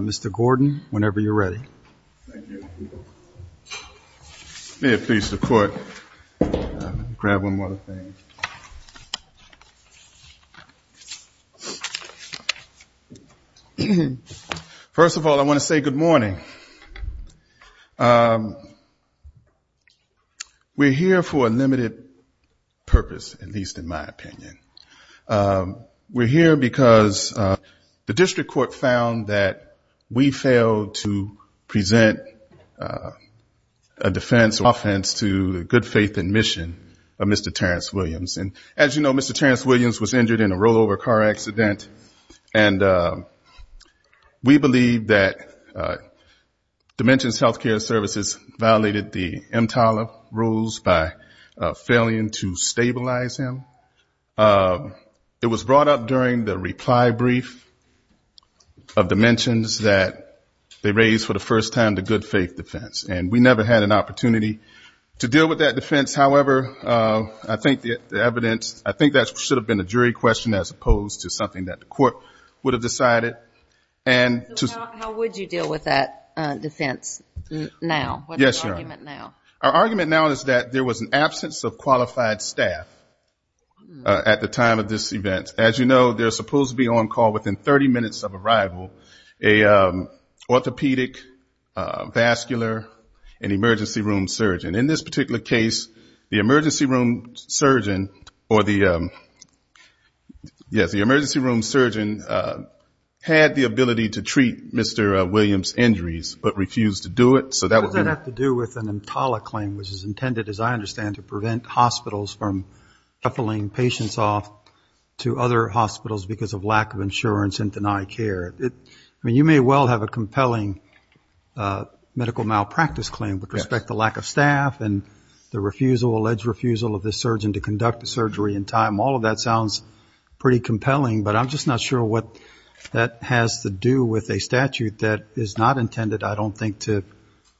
Mr. Gordon, whenever you're ready. May it please the Court. First of all, I want to say good morning. We're here for a limited purpose, at least in my opinion. We're here because the district court found that we failed to present a defense or offense to the good faith and mission of Mr. Terrence Williams. And as you know, Mr. Terrence Williams was injured in a rollover car accident. And we believe that Dimensions Health Care Services violated the EMTALA rules by failing to stabilize him. It was brought up during the reply brief of Dimensions that they raised for the first time the good faith defense. And we never had an opportunity to deal with that defense. However, I think the evidence, I think that should have been a jury question as opposed to something that the court would have decided. How would you deal with that defense now? Our argument now is that there was an absence of qualified staff at the time of this event. As you know, there's supposed to be on call within 30 minutes of arrival, an orthopedic, vascular and emergency room surgeon. In this particular case, the emergency room surgeon or the emergency room surgeon had the ability to treat Mr. Williams' injuries but refused to do it. What does that have to do with an EMTALA claim, which is intended, as I understand, to prevent hospitals from shuffling patients off to other hospitals because of lack of insurance and denied care? You may well have a compelling medical malpractice claim with respect to lack of staff and the refusal, alleged refusal of this surgeon to conduct the surgery in time. All of that sounds pretty compelling. But I'm just not sure what that has to do with a statute that is not intended, I don't think, to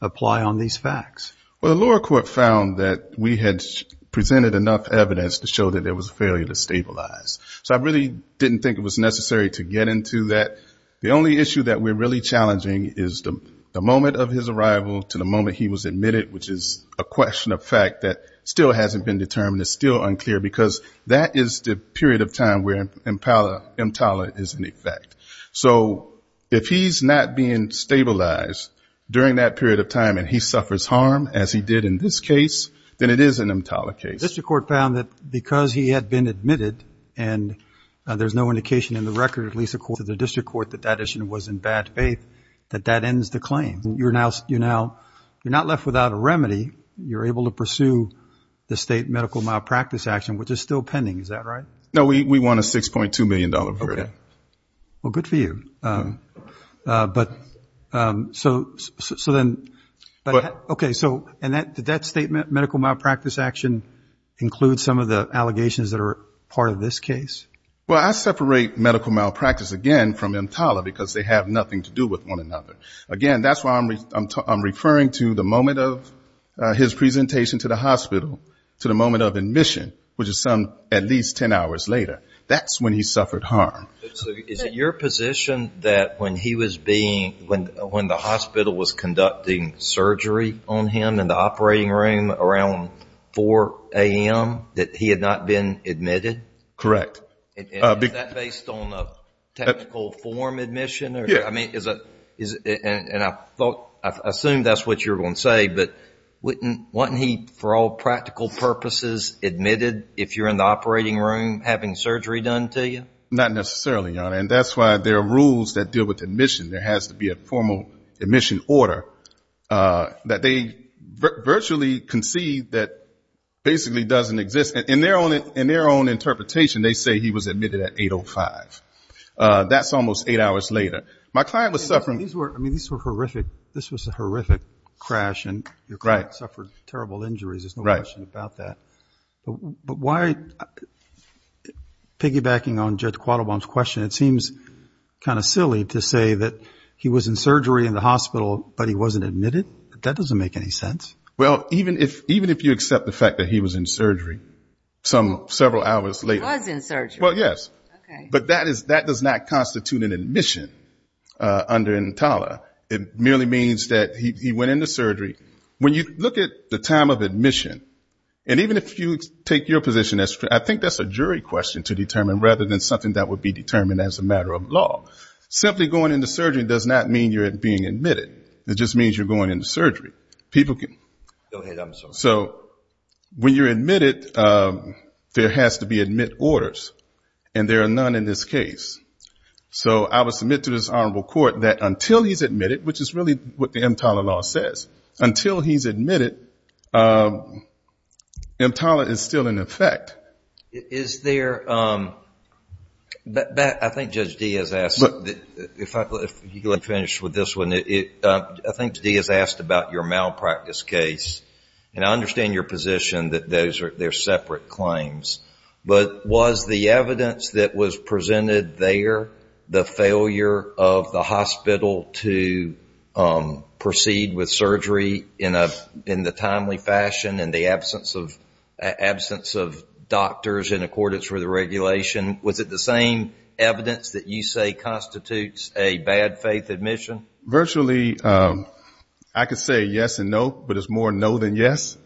apply on these facts. Well, the lower court found that we had presented enough evidence to show that there was a failure to stabilize. So I really didn't think it was necessary to get into that. The only issue that we're really challenging is the moment of his arrival to the moment he was admitted, which is a question of fact that still hasn't been determined. It's still unclear because that is the period of time where EMTALA is in effect. So if he's not being stabilized during that period of time and he suffers harm, as he did in this case, then it is an EMTALA case. The district court found that because he had been admitted, and there's no indication in the record, at least according to the district court, that that issue was in bad faith, that that ends the claim. You're not left without a remedy. You're able to pursue the state medical malpractice action, which is still pending. Is that right? No, we want a $6.2 million verdict. Well, good for you. Did that state medical malpractice action include some of the allegations that are part of this case? Well, I separate medical malpractice, again, from EMTALA because they have nothing to do with one another. Again, that's why I'm referring to the moment of his presentation to the hospital, to the moment of admission, which is some time at least 10 hours later. That's when he suffered harm. Is it your position that when the hospital was conducting surgery on him in the operating room around 4 a.m., that he had not been admitted? Correct. Is that based on a technical form admission? I assume that's what you're going to say, but wasn't he, for all practical purposes, admitted if you're in the operating room having surgery done to you? Not necessarily, Your Honor, and that's why there are rules that deal with admission. There has to be a formal admission order that they virtually concede that basically doesn't exist. In their own interpretation, they say he was admitted at 8.05. That's almost eight hours later. I mean, this was a horrific crash, and your client suffered terrible injuries. There's no question about that. But why, piggybacking on Judge Quattlebaum's question, it seems kind of silly to say that he was in surgery in the hospital, but he wasn't admitted? That doesn't make any sense. Well, even if you accept the fact that he was in surgery several hours later. Well, yes, but that does not constitute an admission under Entala. It merely means that he went into surgery. When you look at the time of admission, and even if you take your position, I think that's a jury question to determine, rather than something that would be determined as a matter of law. Simply going into surgery does not mean you're being admitted. It just means you're going into surgery. So when you're admitted, there has to be admit orders, and there are none in this case. So I would submit to this Honorable Court that until he's admitted, which is really what the Entala law says, until he's admitted, Entala is still in effect. Is there, I think Judge Diaz asked, if you can let me finish with this one, I think Judge Diaz asked about your money. In your malpractice case, and I understand your position that those are separate claims, but was the evidence that was presented there, the failure of the hospital to proceed with surgery in the timely fashion and the absence of doctors in accordance with the regulation, was it the same evidence that you say constitutes a bad faith admission? Virtually, I could say yes and no, but it's more no than yes,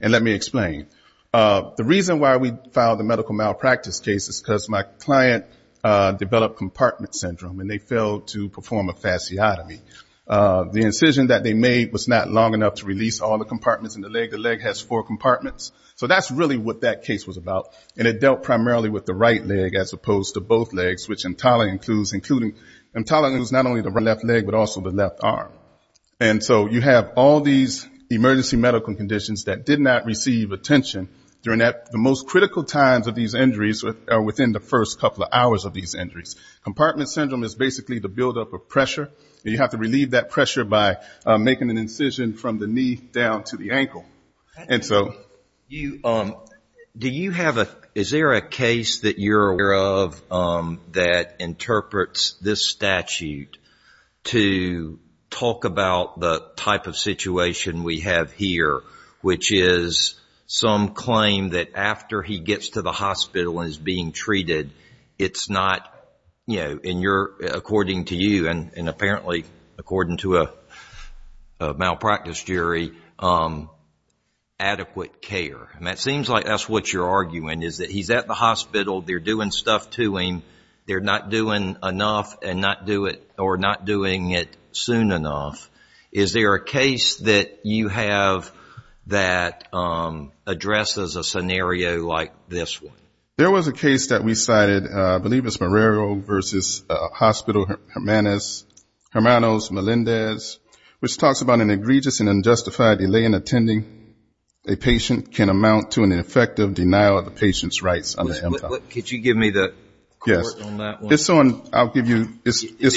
and let me explain. The reason why we filed the medical malpractice case is because my client developed compartment syndrome, and they failed to perform a fasciotomy. The incision that they made was not long enough to release all the compartments in the leg. The leg has four compartments. So that's really what that case was about, and it dealt primarily with the right leg as opposed to both legs, which Entala includes not only the left leg, but also the left arm. And so you have all these emergency medical conditions that did not receive attention during the most critical times of these injuries are within the first couple of hours of these injuries. Compartment syndrome is basically the buildup of pressure, and you have to relieve that pressure by making an incision from the knee down to the ankle. Is there a case that you're aware of that interprets this statute to talk about the type of situation we have here, which is some claim that after he gets to the hospital and is being treated, according to you and apparently according to a medical malpractice jury, adequate care. It seems like that's what you're arguing, is that he's at the hospital, they're doing stuff to him, they're not doing enough or not doing it soon enough. Is there a case that you have that addresses a scenario like this one? There was a case that we cited, I believe it's Marrero v. Hospital Hermanos Melendez, which talks about an egregious and unjustified delay in attending a patient can amount to an effective denial of the patient's rights on the MCOT. Could you give me the court on that one? It's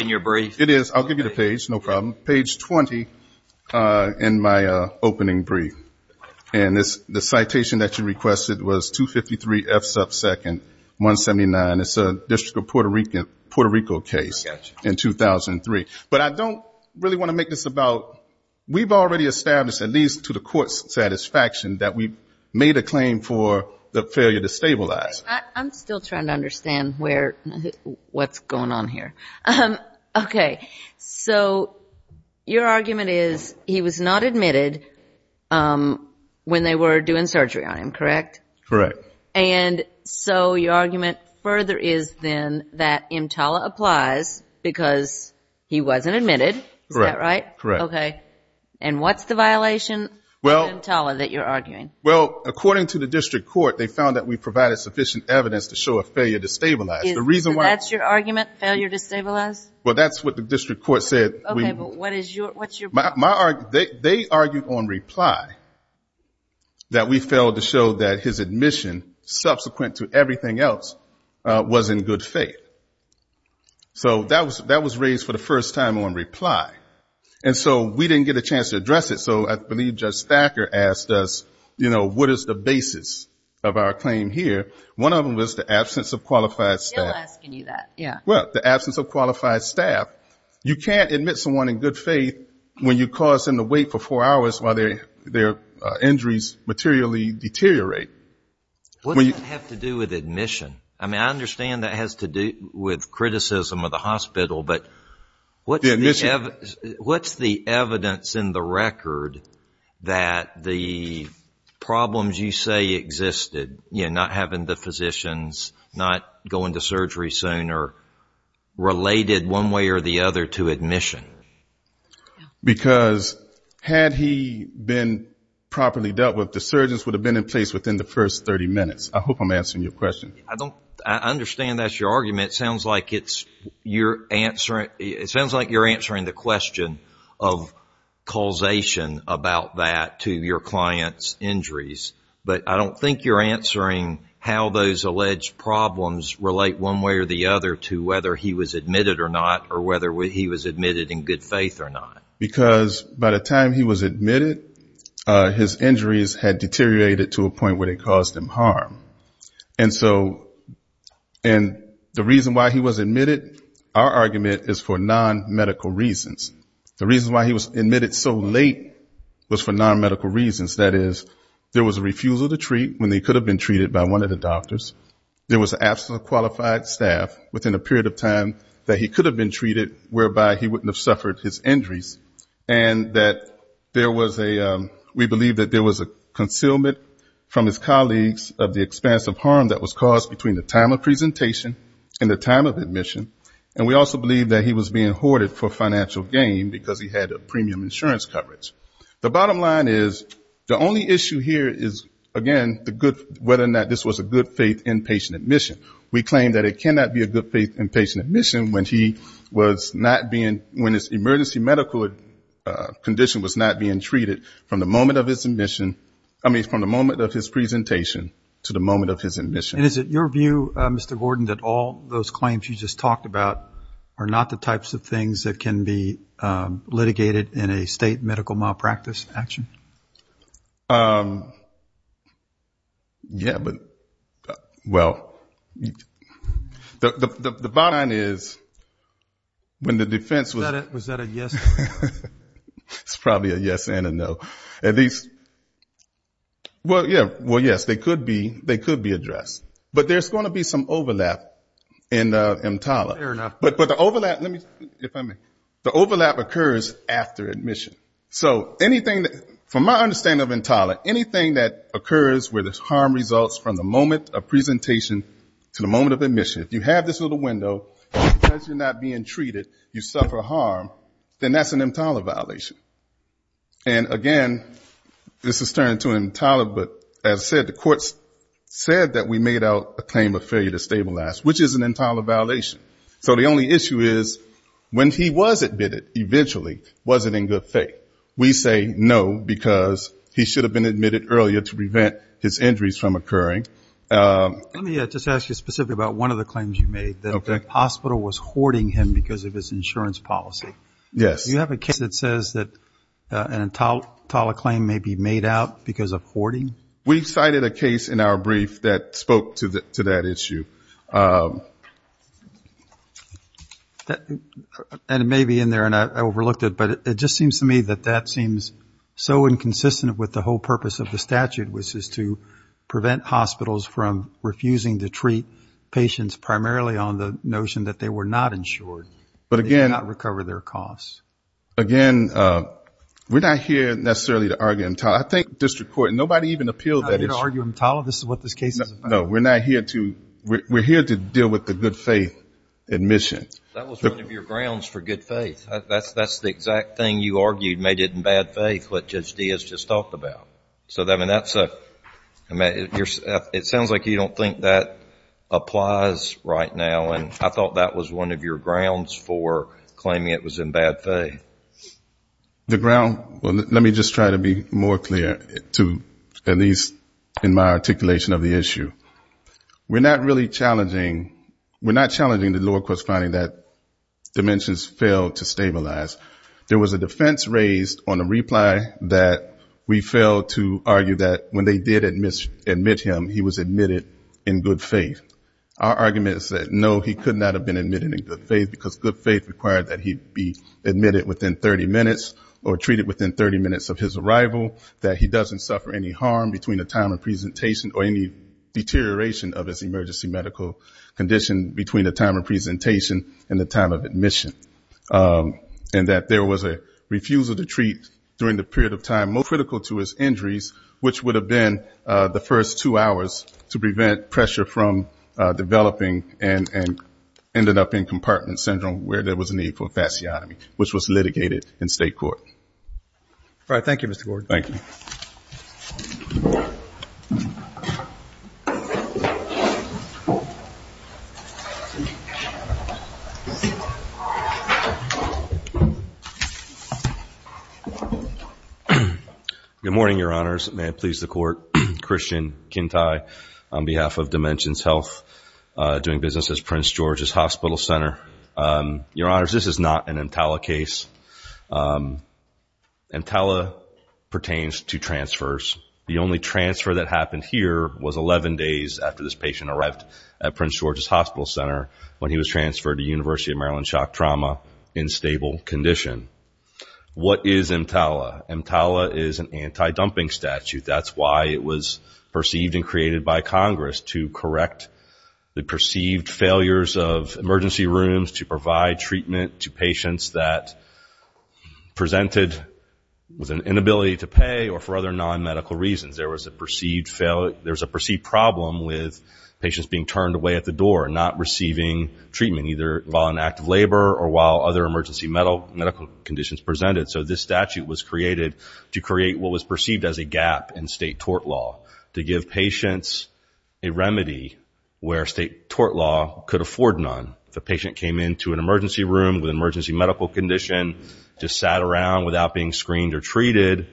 in your brief. It is. I'll give you the page, no problem. Page 20 in my opening brief. And the citation that you requested was 253 F sub 2nd, 179. It's a district of Puerto Rico case in 2003. But I don't really want to make this about, we've already established, at least to the court's satisfaction, that we've made a claim for the failure to stabilize. I'm still trying to understand what's going on here. Okay. So your argument is he was not admitted when they were doing surgery on him, correct? Correct. And so your argument further is then that EMTALA applies because he wasn't admitted, is that right? Correct. Okay. And what's the violation EMTALA that you're arguing? Well, according to the district court, they found that we provided sufficient evidence to show a failure to stabilize. So that's your argument, failure to stabilize? Well, that's what the district court said. They argued on reply that we failed to show that his admission subsequent to everything else was in good faith. So that was raised for the first time on reply. And so we didn't get a chance to address it, so I believe Judge Thacker asked us, you know, what is the basis of our claim here? One of them was the absence of qualified staff. Well, the absence of qualified staff, you can't admit someone in good faith when you cause them to wait for four hours while their injuries materially deteriorate. What does that have to do with admission? I mean, I understand that has to do with criticism of the hospital, but what's the evidence in the record that the problems you say existed, you know, not having the physicians not going to surgery soon or related one way or the other to admission? Because had he been properly dealt with, the surgeons would have been in place within the first 30 minutes. I hope I'm answering your question. I understand that's your argument. It sounds like you're answering the question of causation about that to your client's injuries. But I don't think you're answering how those alleged problems relate one way or the other to whether he was admitted or not or whether he was admitted in good faith. Because by the time he was admitted, his injuries had deteriorated to a point where they caused him harm. And so the reason why he was admitted, our argument is for non-medical reasons. The reason why he was admitted so late was for non-medical reasons. That is, there was a refusal to treat when he could have been treated by one of the doctors. There was an absent qualified staff within a period of time that he could have been treated whereby he wouldn't have suffered his injuries. And that there was a, we believe that there was a concealment from his colleagues of the expense of harm that was caused between the time of presentation and the time of admission. And we also believe that he was being hoarded for financial gain because he had a premium insurance coverage. The bottom line is, the only issue here is, again, the good, whether or not this was a good faith admission. We claim that it cannot be a good faith inpatient admission when he was not being, when his emergency medical condition was not being treated from the moment of his admission, I mean from the moment of his presentation to the moment of his admission. And is it your view, Mr. Gordon, that all those claims you just talked about are not the types of things that can be litigated in a state medical malpractice action? Yeah, but, well, the bottom line is, when the defense was... Was that a yes? It's probably a yes and a no. At least, well, yeah, well, yes, they could be addressed. But there's going to be some overlap in EMTALA. But the overlap, let me, if I may, the overlap occurs after admission. So anything, from my understanding of EMTALA, anything that occurs where there's harm results from the moment of presentation to the moment of admission, if you have this little window, because you're not being treated, you suffer harm, then that's an EMTALA violation. And, again, this is turning to EMTALA, but, as I said, the courts said that we may not be able to do this. We can't get out a claim of failure to stabilize, which is an EMTALA violation. So the only issue is, when he was admitted, eventually, was it in good faith? We say no, because he should have been admitted earlier to prevent his injuries from occurring. Let me just ask you specifically about one of the claims you made, that the hospital was hoarding him because of his insurance policy. Yes. Do you have a case that says that an EMTALA claim may be made out because of hoarding? We cited a case in our brief that spoke to that issue. And it may be in there, and I overlooked it, but it just seems to me that that seems so inconsistent with the whole purpose of the statute, which is to prevent hospitals from refusing to treat patients primarily on the notion that they were not insured. They did not recover their costs. Again, we're not here necessarily to argue EMTALA. I think district court, nobody even appealed that issue. You're not here to argue EMTALA? This is what this case is about? No, we're here to deal with the good faith admission. That was one of your grounds for good faith. That's the exact thing you argued made it in bad faith, what Judge Diaz just talked about. So that's a, it sounds like you don't think that applies right now, and I thought that was one of your grounds for claiming it was in bad faith. The ground, let me just try to be more clear, at least in my articulation of the issue. We're not really challenging, we're not challenging the lower court's finding that dimensions failed to stabilize. There was a defense raised on a reply that we failed to argue that when they did admit him, he was admitted in good faith. Our argument is that no, he could not have been admitted in good faith, because good faith required that he be admitted within 30 minutes, or treated within 30 minutes of his arrival, that he doesn't suffer any harm between the time of presentation, or any deterioration of his emergency medical condition between the time of presentation and the time of admission. And that there was a refusal to treat during the period of time most critical to his injuries, which would have been the first two hours to prevent pressure from developing, and ended up in compartment syndrome where there was a need for a fasciotomy, which was litigated in state court. All right, thank you, Mr. Gordon. Good morning, Your Honors. May it please the court, Christian Kintai on behalf of Dimensions Health, doing business at Prince George's Hospital Center. Your Honors, this is not an EMTALA case. EMTALA pertains to transfers. The only transfer that happened here was 11 days after this patient arrived at Prince George's Hospital Center when he was transferred to University of Maryland Shock Trauma in stable condition. What is EMTALA? EMTALA is an anti-dumping statute. That's why it was perceived and created by Congress to correct the perceived failures of emergency rooms, to provide treatment to patients that presented with an inability to pay, or for other non-medical reasons. There was a perceived failure, there was a perceived problem with patients being turned away at the door and not receiving treatment, either while in active labor or while other emergency medical conditions presented. So this statute was created to create what was perceived as a gap in state tort law, to give patients a remedy where state tort law could afford none. If a patient came into an emergency room with an emergency medical condition, just sat around without being screened or treated,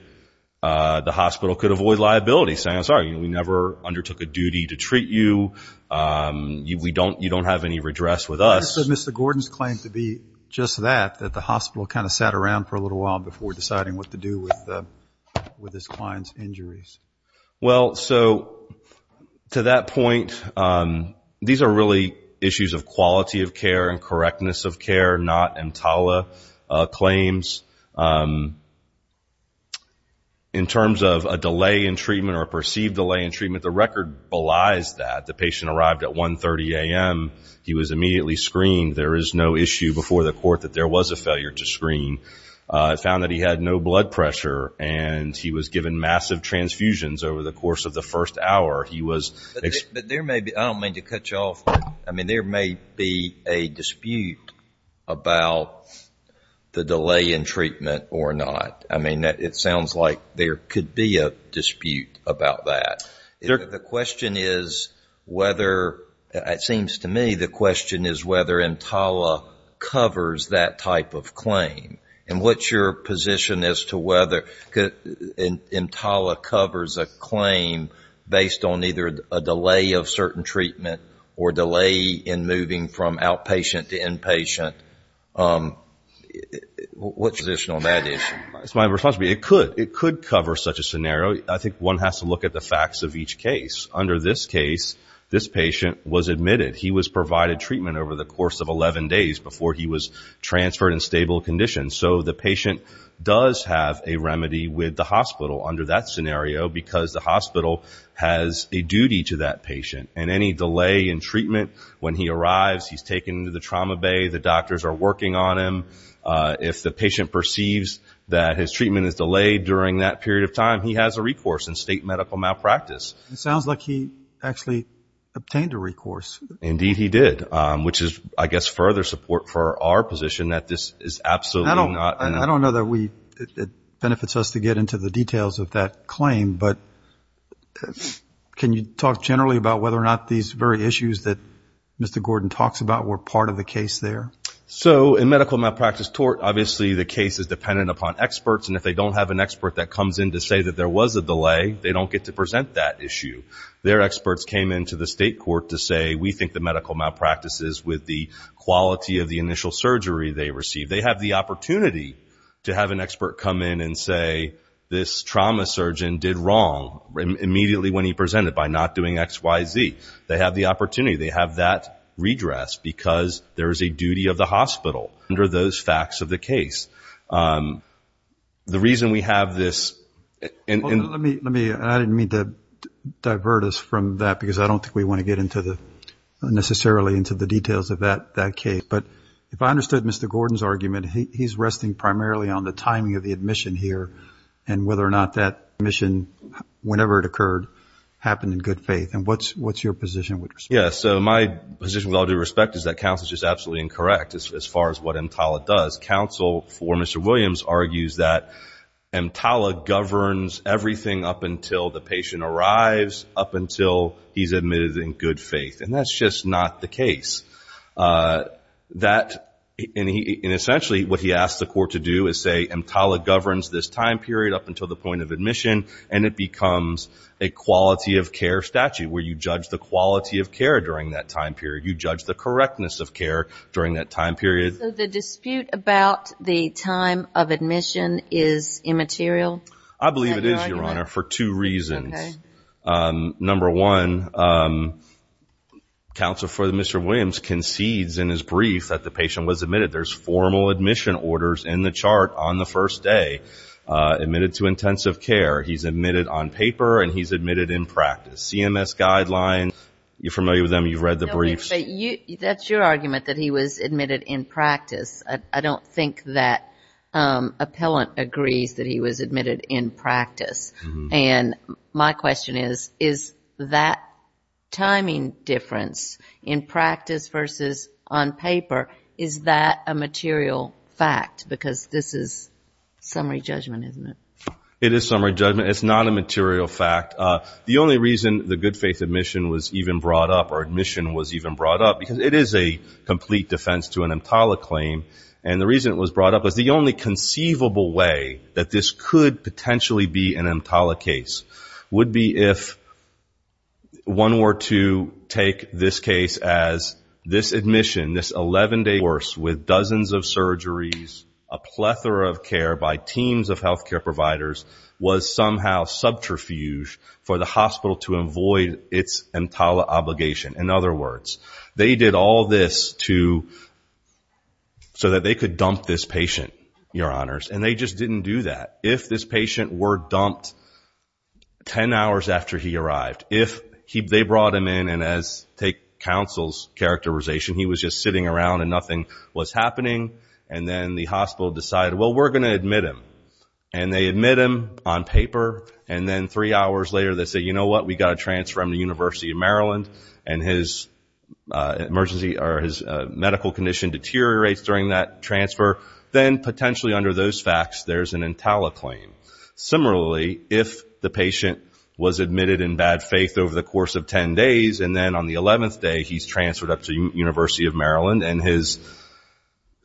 the hospital could avoid liability, saying, I'm sorry, we never undertook a duty to treat you, you don't have any redress with us. I understand Mr. Gordon's claim to be just that, that the hospital kind of sat around for a little while before deciding what to do with this client's injuries. Well, so to that point, these are really issues of quality of care and correctness of care, not EMTALA claims. In terms of a delay in treatment or a perceived delay in treatment, the record belies that. The patient arrived at 1.30 a.m., he was immediately screened. There is no issue before the court that there was a failure to screen. It found that he had no blood pressure, and he was given massive transfusions over the course of the first hour. But there may be, I don't mean to cut you off, but there may be a dispute about the delay in treatment or not. I mean, it sounds like there could be a dispute about that. The question is whether, it seems to me, the question is whether EMTALA covers that type of claim. And what's your position as to whether EMTALA covers a claim based on the fact that there's no, neither a delay of certain treatment or delay in moving from outpatient to inpatient? What's your position on that issue? It's my responsibility. It could. It could cover such a scenario. I think one has to look at the facts of each case. Under this case, this patient was admitted. He was provided treatment over the course of 11 days before he was transferred in stable condition. So the patient does have a remedy with the hospital under that scenario, because the hospital has a duty to that patient. And any delay in treatment when he arrives, he's taken to the trauma bay, the doctors are working on him. If the patient perceives that his treatment is delayed during that period of time, he has a recourse in state medical malpractice. It sounds like he actually obtained a recourse. Indeed he did, which is, I guess, further support for our position that this is absolutely not. I don't know that it benefits us to get into the details of that claim, but can you talk generally about whether or not these very issues that Mr. Gordon talks about were part of the case there? So in medical malpractice tort, obviously the case is dependent upon experts, and if they don't have an expert that comes in to say that there was a delay, they don't get to present that issue. Their experts came in to the state court to say, we think the medical malpractice is with the quality of the initial surgery they received. They have the opportunity to have an expert come in and say, this trauma surgeon did wrong immediately when he presented by not doing X, Y, Z. They have the opportunity. They have that redress because there is a duty of the hospital under those facts of the case. The reason we have this... I didn't mean to divert us from that, because I don't think we want to get necessarily into the details of that case, but if I understood Mr. Gordon's argument, he's resting primarily on the timing of the admission here and whether or not that admission, whenever it occurred, happened in good faith. And what's your position with respect to that? My position with all due respect is that counsel is just absolutely incorrect as far as what EMTALA does. Counsel for Mr. Williams argues that EMTALA governs everything up until the patient arrives, up until he's admitted in good faith. And that's just not the case. And essentially what he asks the court to do is say, EMTALA governs this time period up until the point of admission, and it becomes a quality of care statute where you judge the quality of care during that time period. You judge the correctness of care during that time period. So the dispute about the time of admission is immaterial? I believe it is, Your Honor, for two reasons. Number one, counsel for Mr. Williams concedes in his brief that the patient was admitted. There's formal admission orders in the chart on the first day, admitted to intensive care. He's admitted on paper and he's admitted in practice. CMS guidelines, you're familiar with them, you've read the briefs. That's your argument, that he was admitted in practice. I don't think that appellant agrees that he was admitted in practice. And my question is, is that timing difference in practice versus on paper, is that a material fact? Because this is summary judgment, isn't it? It is summary judgment, it's not a material fact. The only reason the good faith admission was even brought up, or admission was even brought up, because it is a complete defense to an EMTALA claim, and the reason it was brought up was the only conceivable way that this could potentially be an EMTALA case would be if one were to take this case as this admission, a plethora of care by teams of healthcare providers was somehow subterfuge for the hospital to avoid its EMTALA obligation. In other words, they did all this so that they could dump this patient, your honors, and they just didn't do that. If this patient were dumped 10 hours after he arrived, if they brought him in and as, take counsel's characterization, he was just sitting around and nothing was happening, and then the hospital decided, well, we're going to admit him, and they admit him on paper, and then three hours later they say, you know what, we've got to transfer him to the University of Maryland, and his medical condition deteriorates during that transfer, then potentially under those facts there's an EMTALA claim. Similarly, if the patient was admitted in bad faith over the course of 10 days, and then on the 11th day he's transferred up to the University of Maryland, and his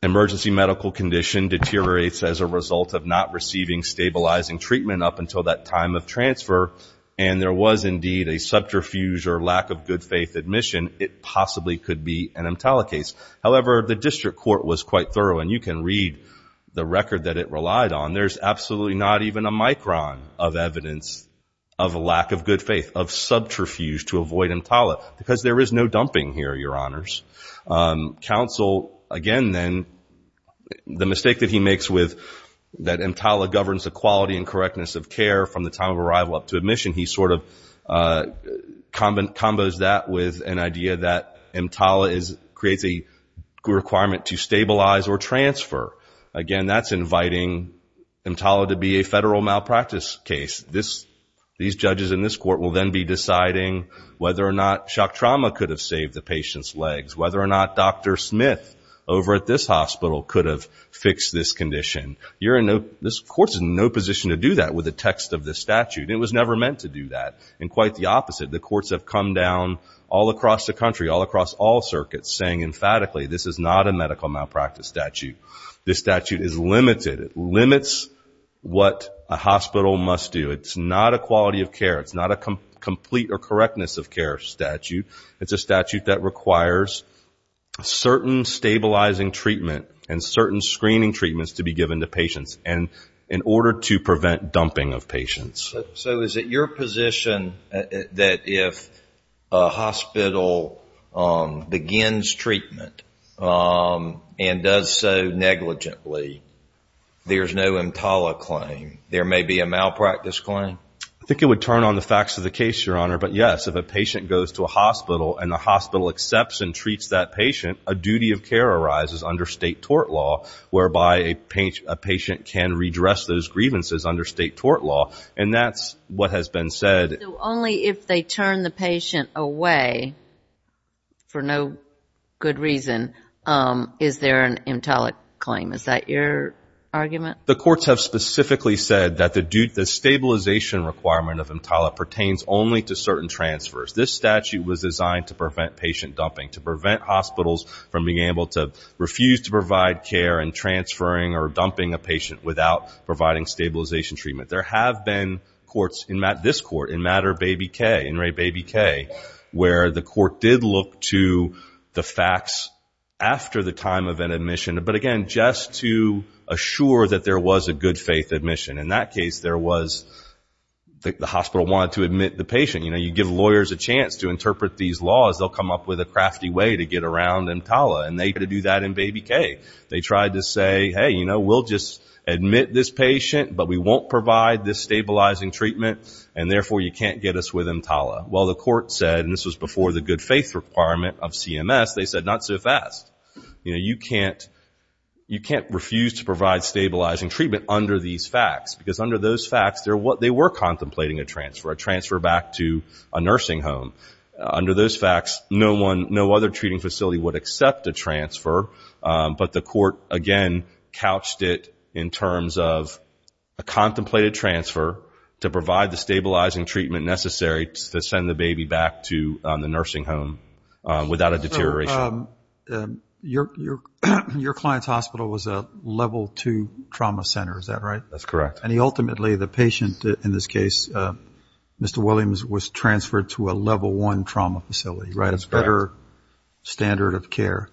emergency medical condition deteriorates as a result of not receiving stabilizing treatment up until that time of transfer, and there was indeed a subterfuge or lack of good faith admission, it possibly could be an EMTALA case. However, the district court was quite thorough, and you can read the record that it relied on. There's absolutely not even a micron of evidence of a lack of good faith, of subterfuge to avoid EMTALA, because there is no dumping here, your honors. Counsel, again then, the mistake that he makes with that EMTALA governs the quality and correctness of care from the time of arrival up to admission, he sort of combos that with an idea that EMTALA creates a requirement to stabilize or transfer. Again, that's inviting EMTALA to be a federal malpractice case. These judges in this court will then be deciding whether or not shock trauma could have saved the patient's legs, whether or not Dr. Smith over at this hospital could have fixed this condition. This court's in no position to do that with the text of the statute. It was never meant to do that, and quite the opposite. The courts have come down all across the country, all across all circuits, saying emphatically this is not a medical malpractice statute. This statute is limited. It limits what a hospital must do. It's not a quality of care. It's not a complete or correctness of care statute. It's a statute that requires certain stabilizing treatment and certain screening treatments to be given to patients in order to prevent dumping of patients. So is it your position that if a hospital begins treatment and does so negligently, there's no EMTALA claim? There may be a malpractice claim? I think it would turn on the facts of the case, Your Honor. But yes, if a patient goes to a hospital and the hospital accepts and treats that patient, a duty of care arises under state tort law, whereby a patient can redress those grievances under state tort law. And that's what has been said. So only if they turn the patient away for no good reason is there an EMTALA claim. Is that your argument? The courts have specifically said that the stabilization requirement of EMTALA pertains only to certain transfers. This statute was designed to prevent patient dumping, to prevent hospitals from being able to refuse to provide care and transferring or dumping a patient without providing stabilization treatment. There have been courts in this court, in Matter Baby K, where the court did look to the facts after the time of an admission. But again, just to assure that there was a good faith admission. In that case, the hospital wanted to admit the patient. You give lawyers a chance to interpret these laws, they'll come up with a crafty way to get around EMTALA. And they tried to do that in Baby K. They tried to say, hey, we'll just admit this patient, but we won't provide this stabilizing treatment, and therefore you can't get us with EMTALA. Well, the court said, and this was before the good faith requirement of CMS, they said, not so fast. You can't refuse to provide stabilizing treatment under these facts. Because under those facts, they were contemplating a transfer, a transfer back to a nursing home. Under those facts, no other treating facility would accept a transfer. But the court, again, couched it in terms of a contemplated transfer to provide the stabilizing treatment necessary to send the baby back to the nursing home without a deterioration. So your client's hospital was a level two trauma center, is that right? That's correct. And he ultimately, the patient in this case, Mr. Williams, was transferred to a level one trauma facility, right? That's correct. That's a higher standard of care.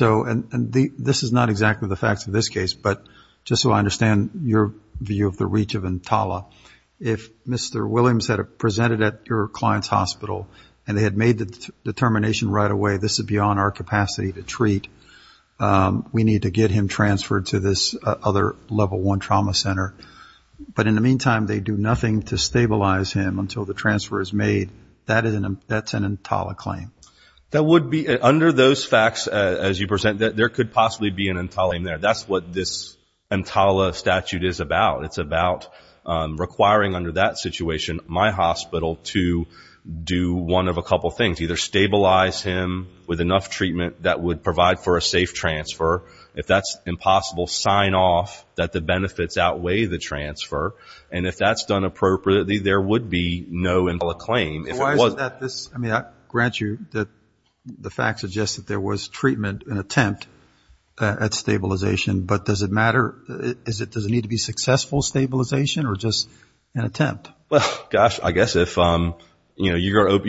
And this is not exactly the facts of this case, but just so I understand your view of the reach of EMTALA, if Mr. Williams had presented at your client's hospital and they had made the determination right away, this is beyond our capacity to treat, we need to get him transferred to this other level one trauma center. But in the meantime, they do nothing to stabilize him until the transfer is made. That's an EMTALA claim. Under those facts, as you present, there could possibly be an EMTALA claim there. That's what this EMTALA statute is about. It's about requiring under that situation my hospital to do one of a couple things, either stabilize him with enough treatment that would provide for a safe transfer. If that's impossible, sign off that the benefits outweigh the transfer. And if that's done appropriately, there would be no EMTALA claim. I grant you that the facts suggest that there was treatment and attempt at stabilization, but does it matter? Does it need to be successful stabilization or just an attempt? Well, gosh, I guess if you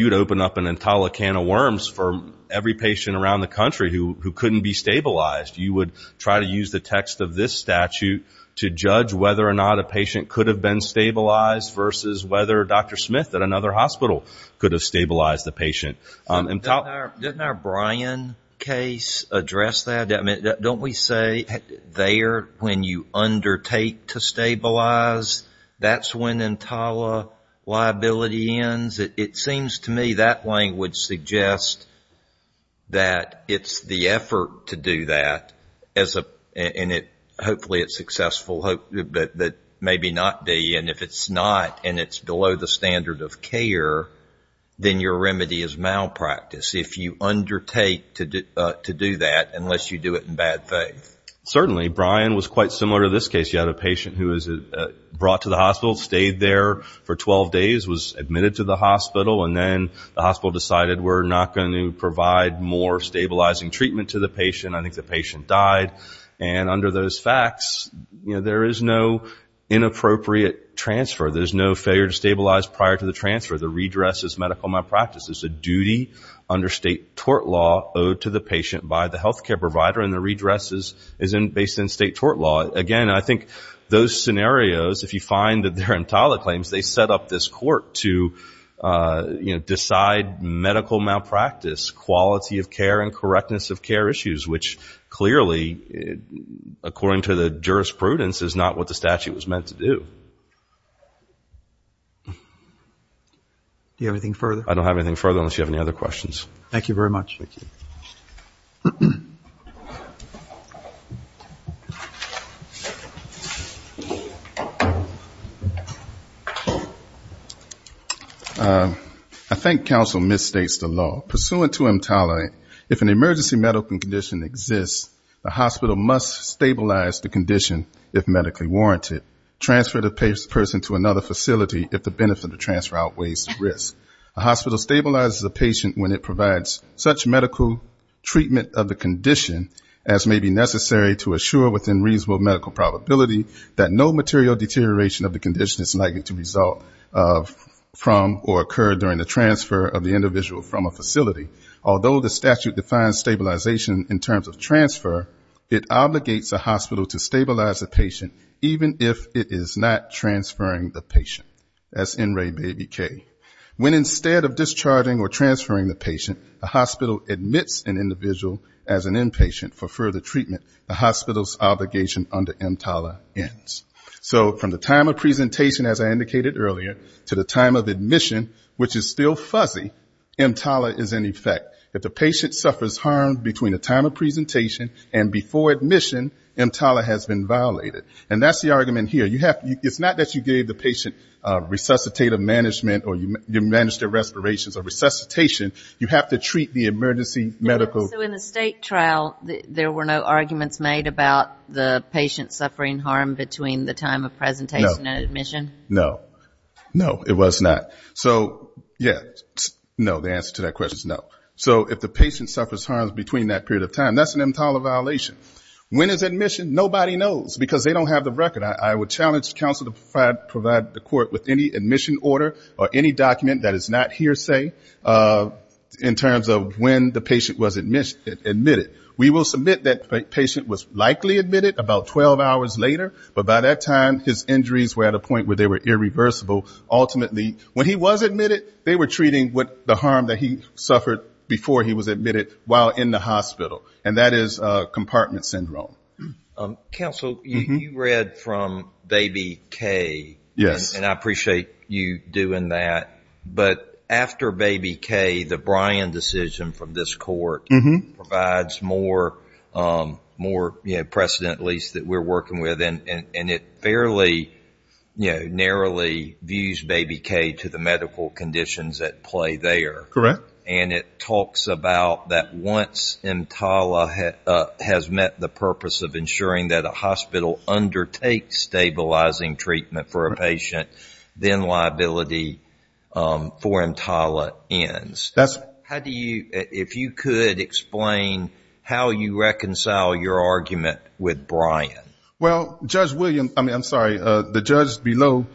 would open up an EMTALA can of worms for every patient around the country who couldn't be stabilized, you would try to use the text of this statute to judge whether or not a patient could have been stabilized versus whether Dr. Smith at another hospital could have stabilized the patient. Didn't our Brian case address that? Don't we say there when you undertake to stabilize, that's when EMTALA liability ends? It seems to me that language suggests that it's the effort to do that, and hopefully it's successful, but maybe not be. And if it's not and it's below the standard of care, then your remedy is malpractice. If you undertake to do that, unless you do it in bad faith. Certainly. Brian was quite similar to this case. You had a patient who was brought to the hospital, stayed there for 12 days, was admitted to the hospital, and then the hospital decided we're not going to provide more stabilizing treatment to the patient. I think the patient died. And under those facts, there is no inappropriate transfer. There's no failure to stabilize prior to the transfer. The redress is medical malpractice. It's a duty under state tort law owed to the patient by the health care provider, and the redress is based in state tort law. Again, I think those scenarios, if you find that they're EMTALA claims, they set up this court to decide medical malpractice, quality of care, and correctness of care issues, which clearly, according to the jurisprudence, is not what the statute was meant to do. Do you have anything further? I don't have anything further unless you have any other questions. I think counsel misstates the law. Pursuant to EMTALA, if an emergency medical condition exists, the hospital must stabilize the condition if medically warranted, transfer the person to another facility if the benefit of transfer outweighs the risk. A hospital stabilizes a patient when it provides such medical treatment of the condition as may be necessary to assure, within reasonable medical probability, that no material deterioration of the condition is likely to result from or occur during the transfer of the individual from a facility. Although the statute defines stabilization in terms of transfer, it obligates a hospital to stabilize a patient even if it is not transferring the patient, as in Ray Baby Kay. When instead of discharging or transferring the patient, a hospital admits an individual as an inpatient for further treatment, the hospital's obligation under EMTALA ends. So from the time of presentation, as I indicated earlier, to the time of admission, which is still fuzzy, EMTALA is in effect. If the patient suffers harm between the time of presentation and before admission, EMTALA has been violated. And that's the argument here. It's not that you gave the patient resuscitative management or you managed their respirations or resuscitation. You have to treat the emergency medical... So in the state trial, there were no arguments made about the patient suffering harm between the time of presentation and admission? No. No, it was not. So, yeah, no, the answer to that question is no. So if the patient suffers harm between that period of time, that's an EMTALA violation. When is admission? Nobody knows because they don't have the record. I would challenge counsel to provide the court with any admission order or any document that is not hearsay in terms of when the patient was admitted. We will submit that the patient was likely admitted about 12 hours later, but by that time, his injuries were at a point where they were irreversible. Ultimately, when he was admitted, they were treating the harm that he suffered before he was admitted while in the hospital, and that is compartment syndrome. Counsel, you read from Baby K, and I appreciate you doing that. But after Baby K, the Bryan decision from this court provides more precedent, at least, that we're working with, and it fairly narrowly views Baby K to the medical conditions at play there. Correct. And it talks about that once EMTALA has met the purpose of ensuring that a hospital undertakes stabilizing treatment for a patient, then liability for EMTALA ends. If you could explain how you reconcile your argument with Bryan. Well, Judge Williams, I mean, I'm sorry, the judge below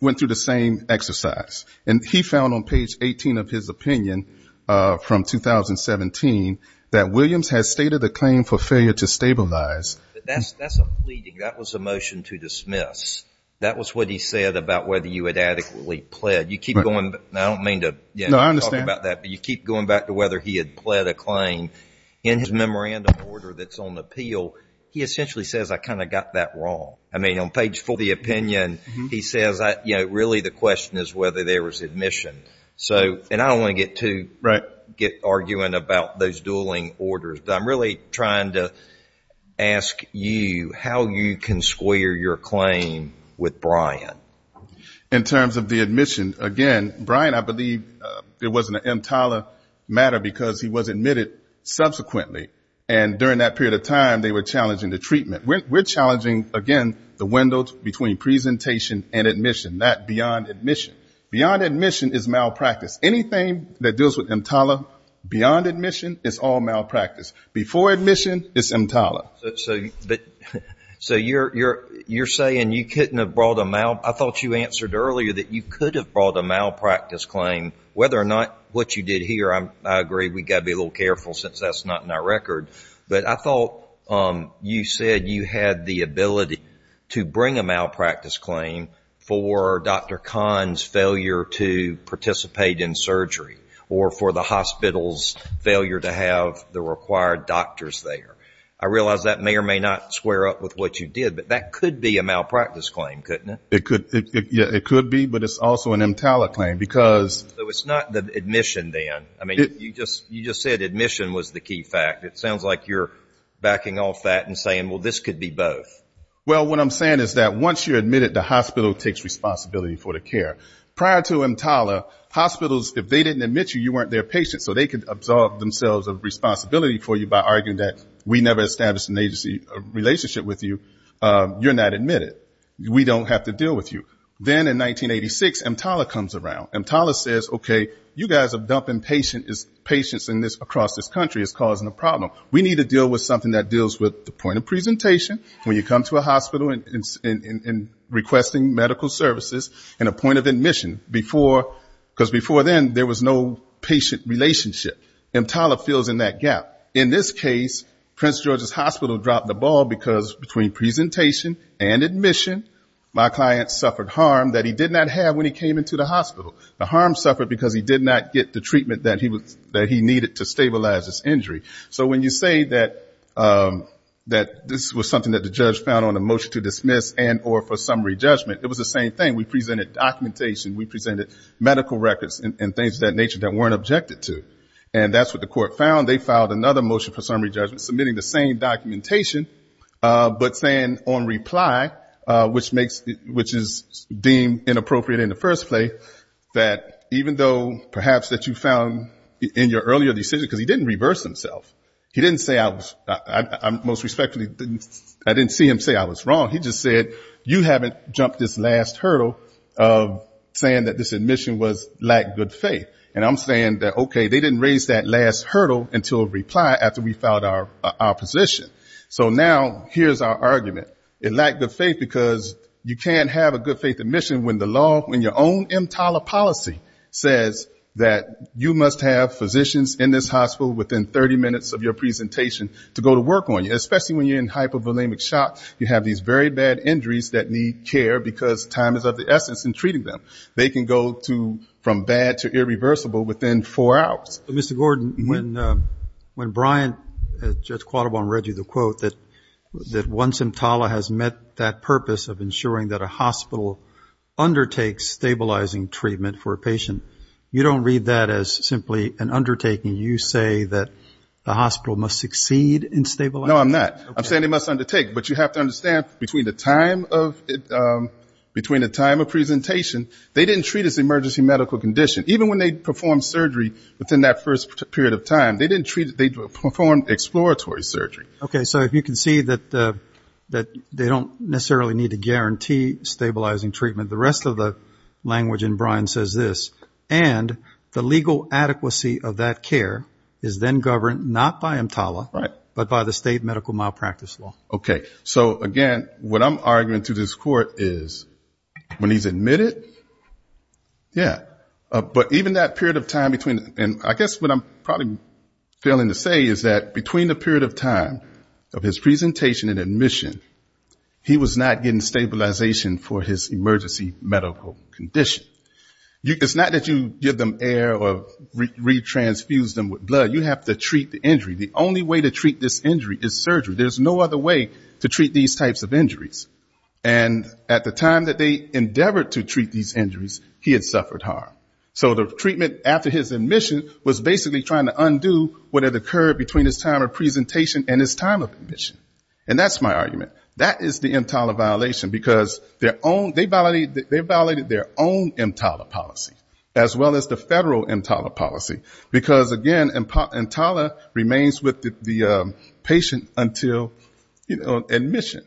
went through the same exercise. And he found on page 18 of his opinion from 2017 that Williams had stated a claim for failure to stabilize. That's a pleading. That was a motion to dismiss. That was what he said about whether you had adequately pled. I don't mean to talk about that, but you keep going back to whether he had pled a claim. In his memorandum order that's on appeal, he essentially says I kind of got that wrong. I mean, on page 40 of the opinion, he says, you know, really the question is whether there was admission. And I don't want to get too, get arguing about those dueling orders, but I'm really trying to ask you how you can square your claim with Bryan. In terms of the admission, again, Bryan, I believe it wasn't an EMTALA matter because he was admitted subsequently. And during that period of time they were challenging the treatment. We're challenging, again, the window between presentation and admission, not beyond admission. Beyond admission is malpractice. Anything that deals with EMTALA beyond admission is all malpractice. Before admission is EMTALA. So you're saying you couldn't have brought a, I thought you answered earlier that you could have brought a malpractice claim, whether or not what you did here, I agree, we've got to be a little careful since that's not in our record, but I thought you said you had the ability to bring a malpractice claim for Dr. Kahn's failure to participate in surgery or for the hospital's failure to have the required doctors there. I realize that may or may not square up with what you did, but that could be a malpractice claim, couldn't it? Yeah, it could be, but it's also an EMTALA claim because... So it's not the admission then. I mean, you just said admission was the key fact. It sounds like you're backing off that and saying, well, this could be both. Well, what I'm saying is that once you're admitted, the hospital takes responsibility for the care. Prior to EMTALA, hospitals, if they didn't admit you, you weren't their patient, so they could absolve themselves of responsibility for you by arguing that we never established an agency relationship with you. You're not admitted. We don't have to deal with you. Then in 1986, EMTALA comes around. EMTALA says, okay, you guys are dumping patients across this country. It's causing a problem. We need to deal with something that deals with the point of presentation. When you come to a hospital and requesting medical services and a point of admission, because before then there was no patient relationship, EMTALA fills in that gap. In this case, Prince George's Hospital dropped the ball because between presentation and admission, my client suffered harm that he did not have when he came into the hospital. The harm suffered because he did not get the treatment that he needed to stabilize his injury. So when you say that this was something that the judge found on a motion to dismiss and or for summary judgment, it was the same thing. We presented documentation. We presented medical records and things of that nature that weren't objected to. And that's what the court found. They filed another motion for summary judgment submitting the same documentation but saying on reply, which is deemed inappropriate in the first place, that even though perhaps that you found in your earlier decision, because he didn't reverse himself. He didn't say I was most respectfully I didn't see him say I was wrong. He just said you haven't jumped this last hurdle of saying that this admission was lack of good faith. And I'm saying that, okay, they didn't raise that last hurdle until reply after we filed our position. So now here's our argument. It lacked good faith because you can't have a good faith admission when the law, when your own MTALA policy says that you must have physicians in this hospital within 30 minutes of your presentation to go to work on you. Especially when you're in hypovolemic shock. You have these very bad injuries that need care because time is of the essence in treating them. They can go from bad to irreversible within four hours. Mr. Gordon, when Brian, Judge Quattrobon, read you the quote that once MTALA has met that purpose of ensuring that a hospital undertakes stabilizing treatment for a patient, you don't read that as simply an undertaking. You say that the hospital must succeed in stabilizing. No, I'm not. I'm saying they must undertake. But you have to understand between the time of presentation, they didn't treat as emergency medical condition. Even when they performed surgery within that first period of time, they performed exploratory surgery. Okay. So if you can see that they don't necessarily need to guarantee stabilizing treatment, the rest of the language in Brian says this, and the legal adequacy of that care is then governed not by MTALA, but by the state medical malpractice law. Okay. So again, what I'm arguing to this court is when he's admitted, yeah. But even that period of time between, and I guess what I'm probably failing to say is that between the period of time of his presentation and admission, he was not getting stabilization for his emergency medical condition. It's not that you give them air or re-transfuse them with blood. You have to treat the injury. The only way to treat this injury is surgery. There's no other way to treat these types of injuries. And at the time that they endeavored to treat these injuries, he had suffered harm. So the treatment after his admission was basically trying to undo what had occurred between his time of presentation and his time of admission. And that's my argument. That is the MTALA violation, because they violated their own MTALA policy, as well as the federal MTALA policy. Because again, MTALA remains with the patient until admission.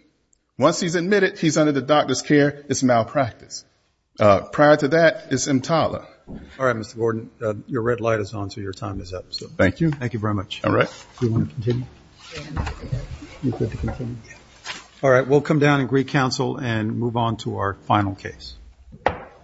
Once he's admitted, he's under the doctor's care. It's malpractice. Prior to that, it's MTALA. All right, Mr. Gordon. Your red light is on, so your time is up. Thank you very much. All right, we'll come down and re-counsel and move on to our final case.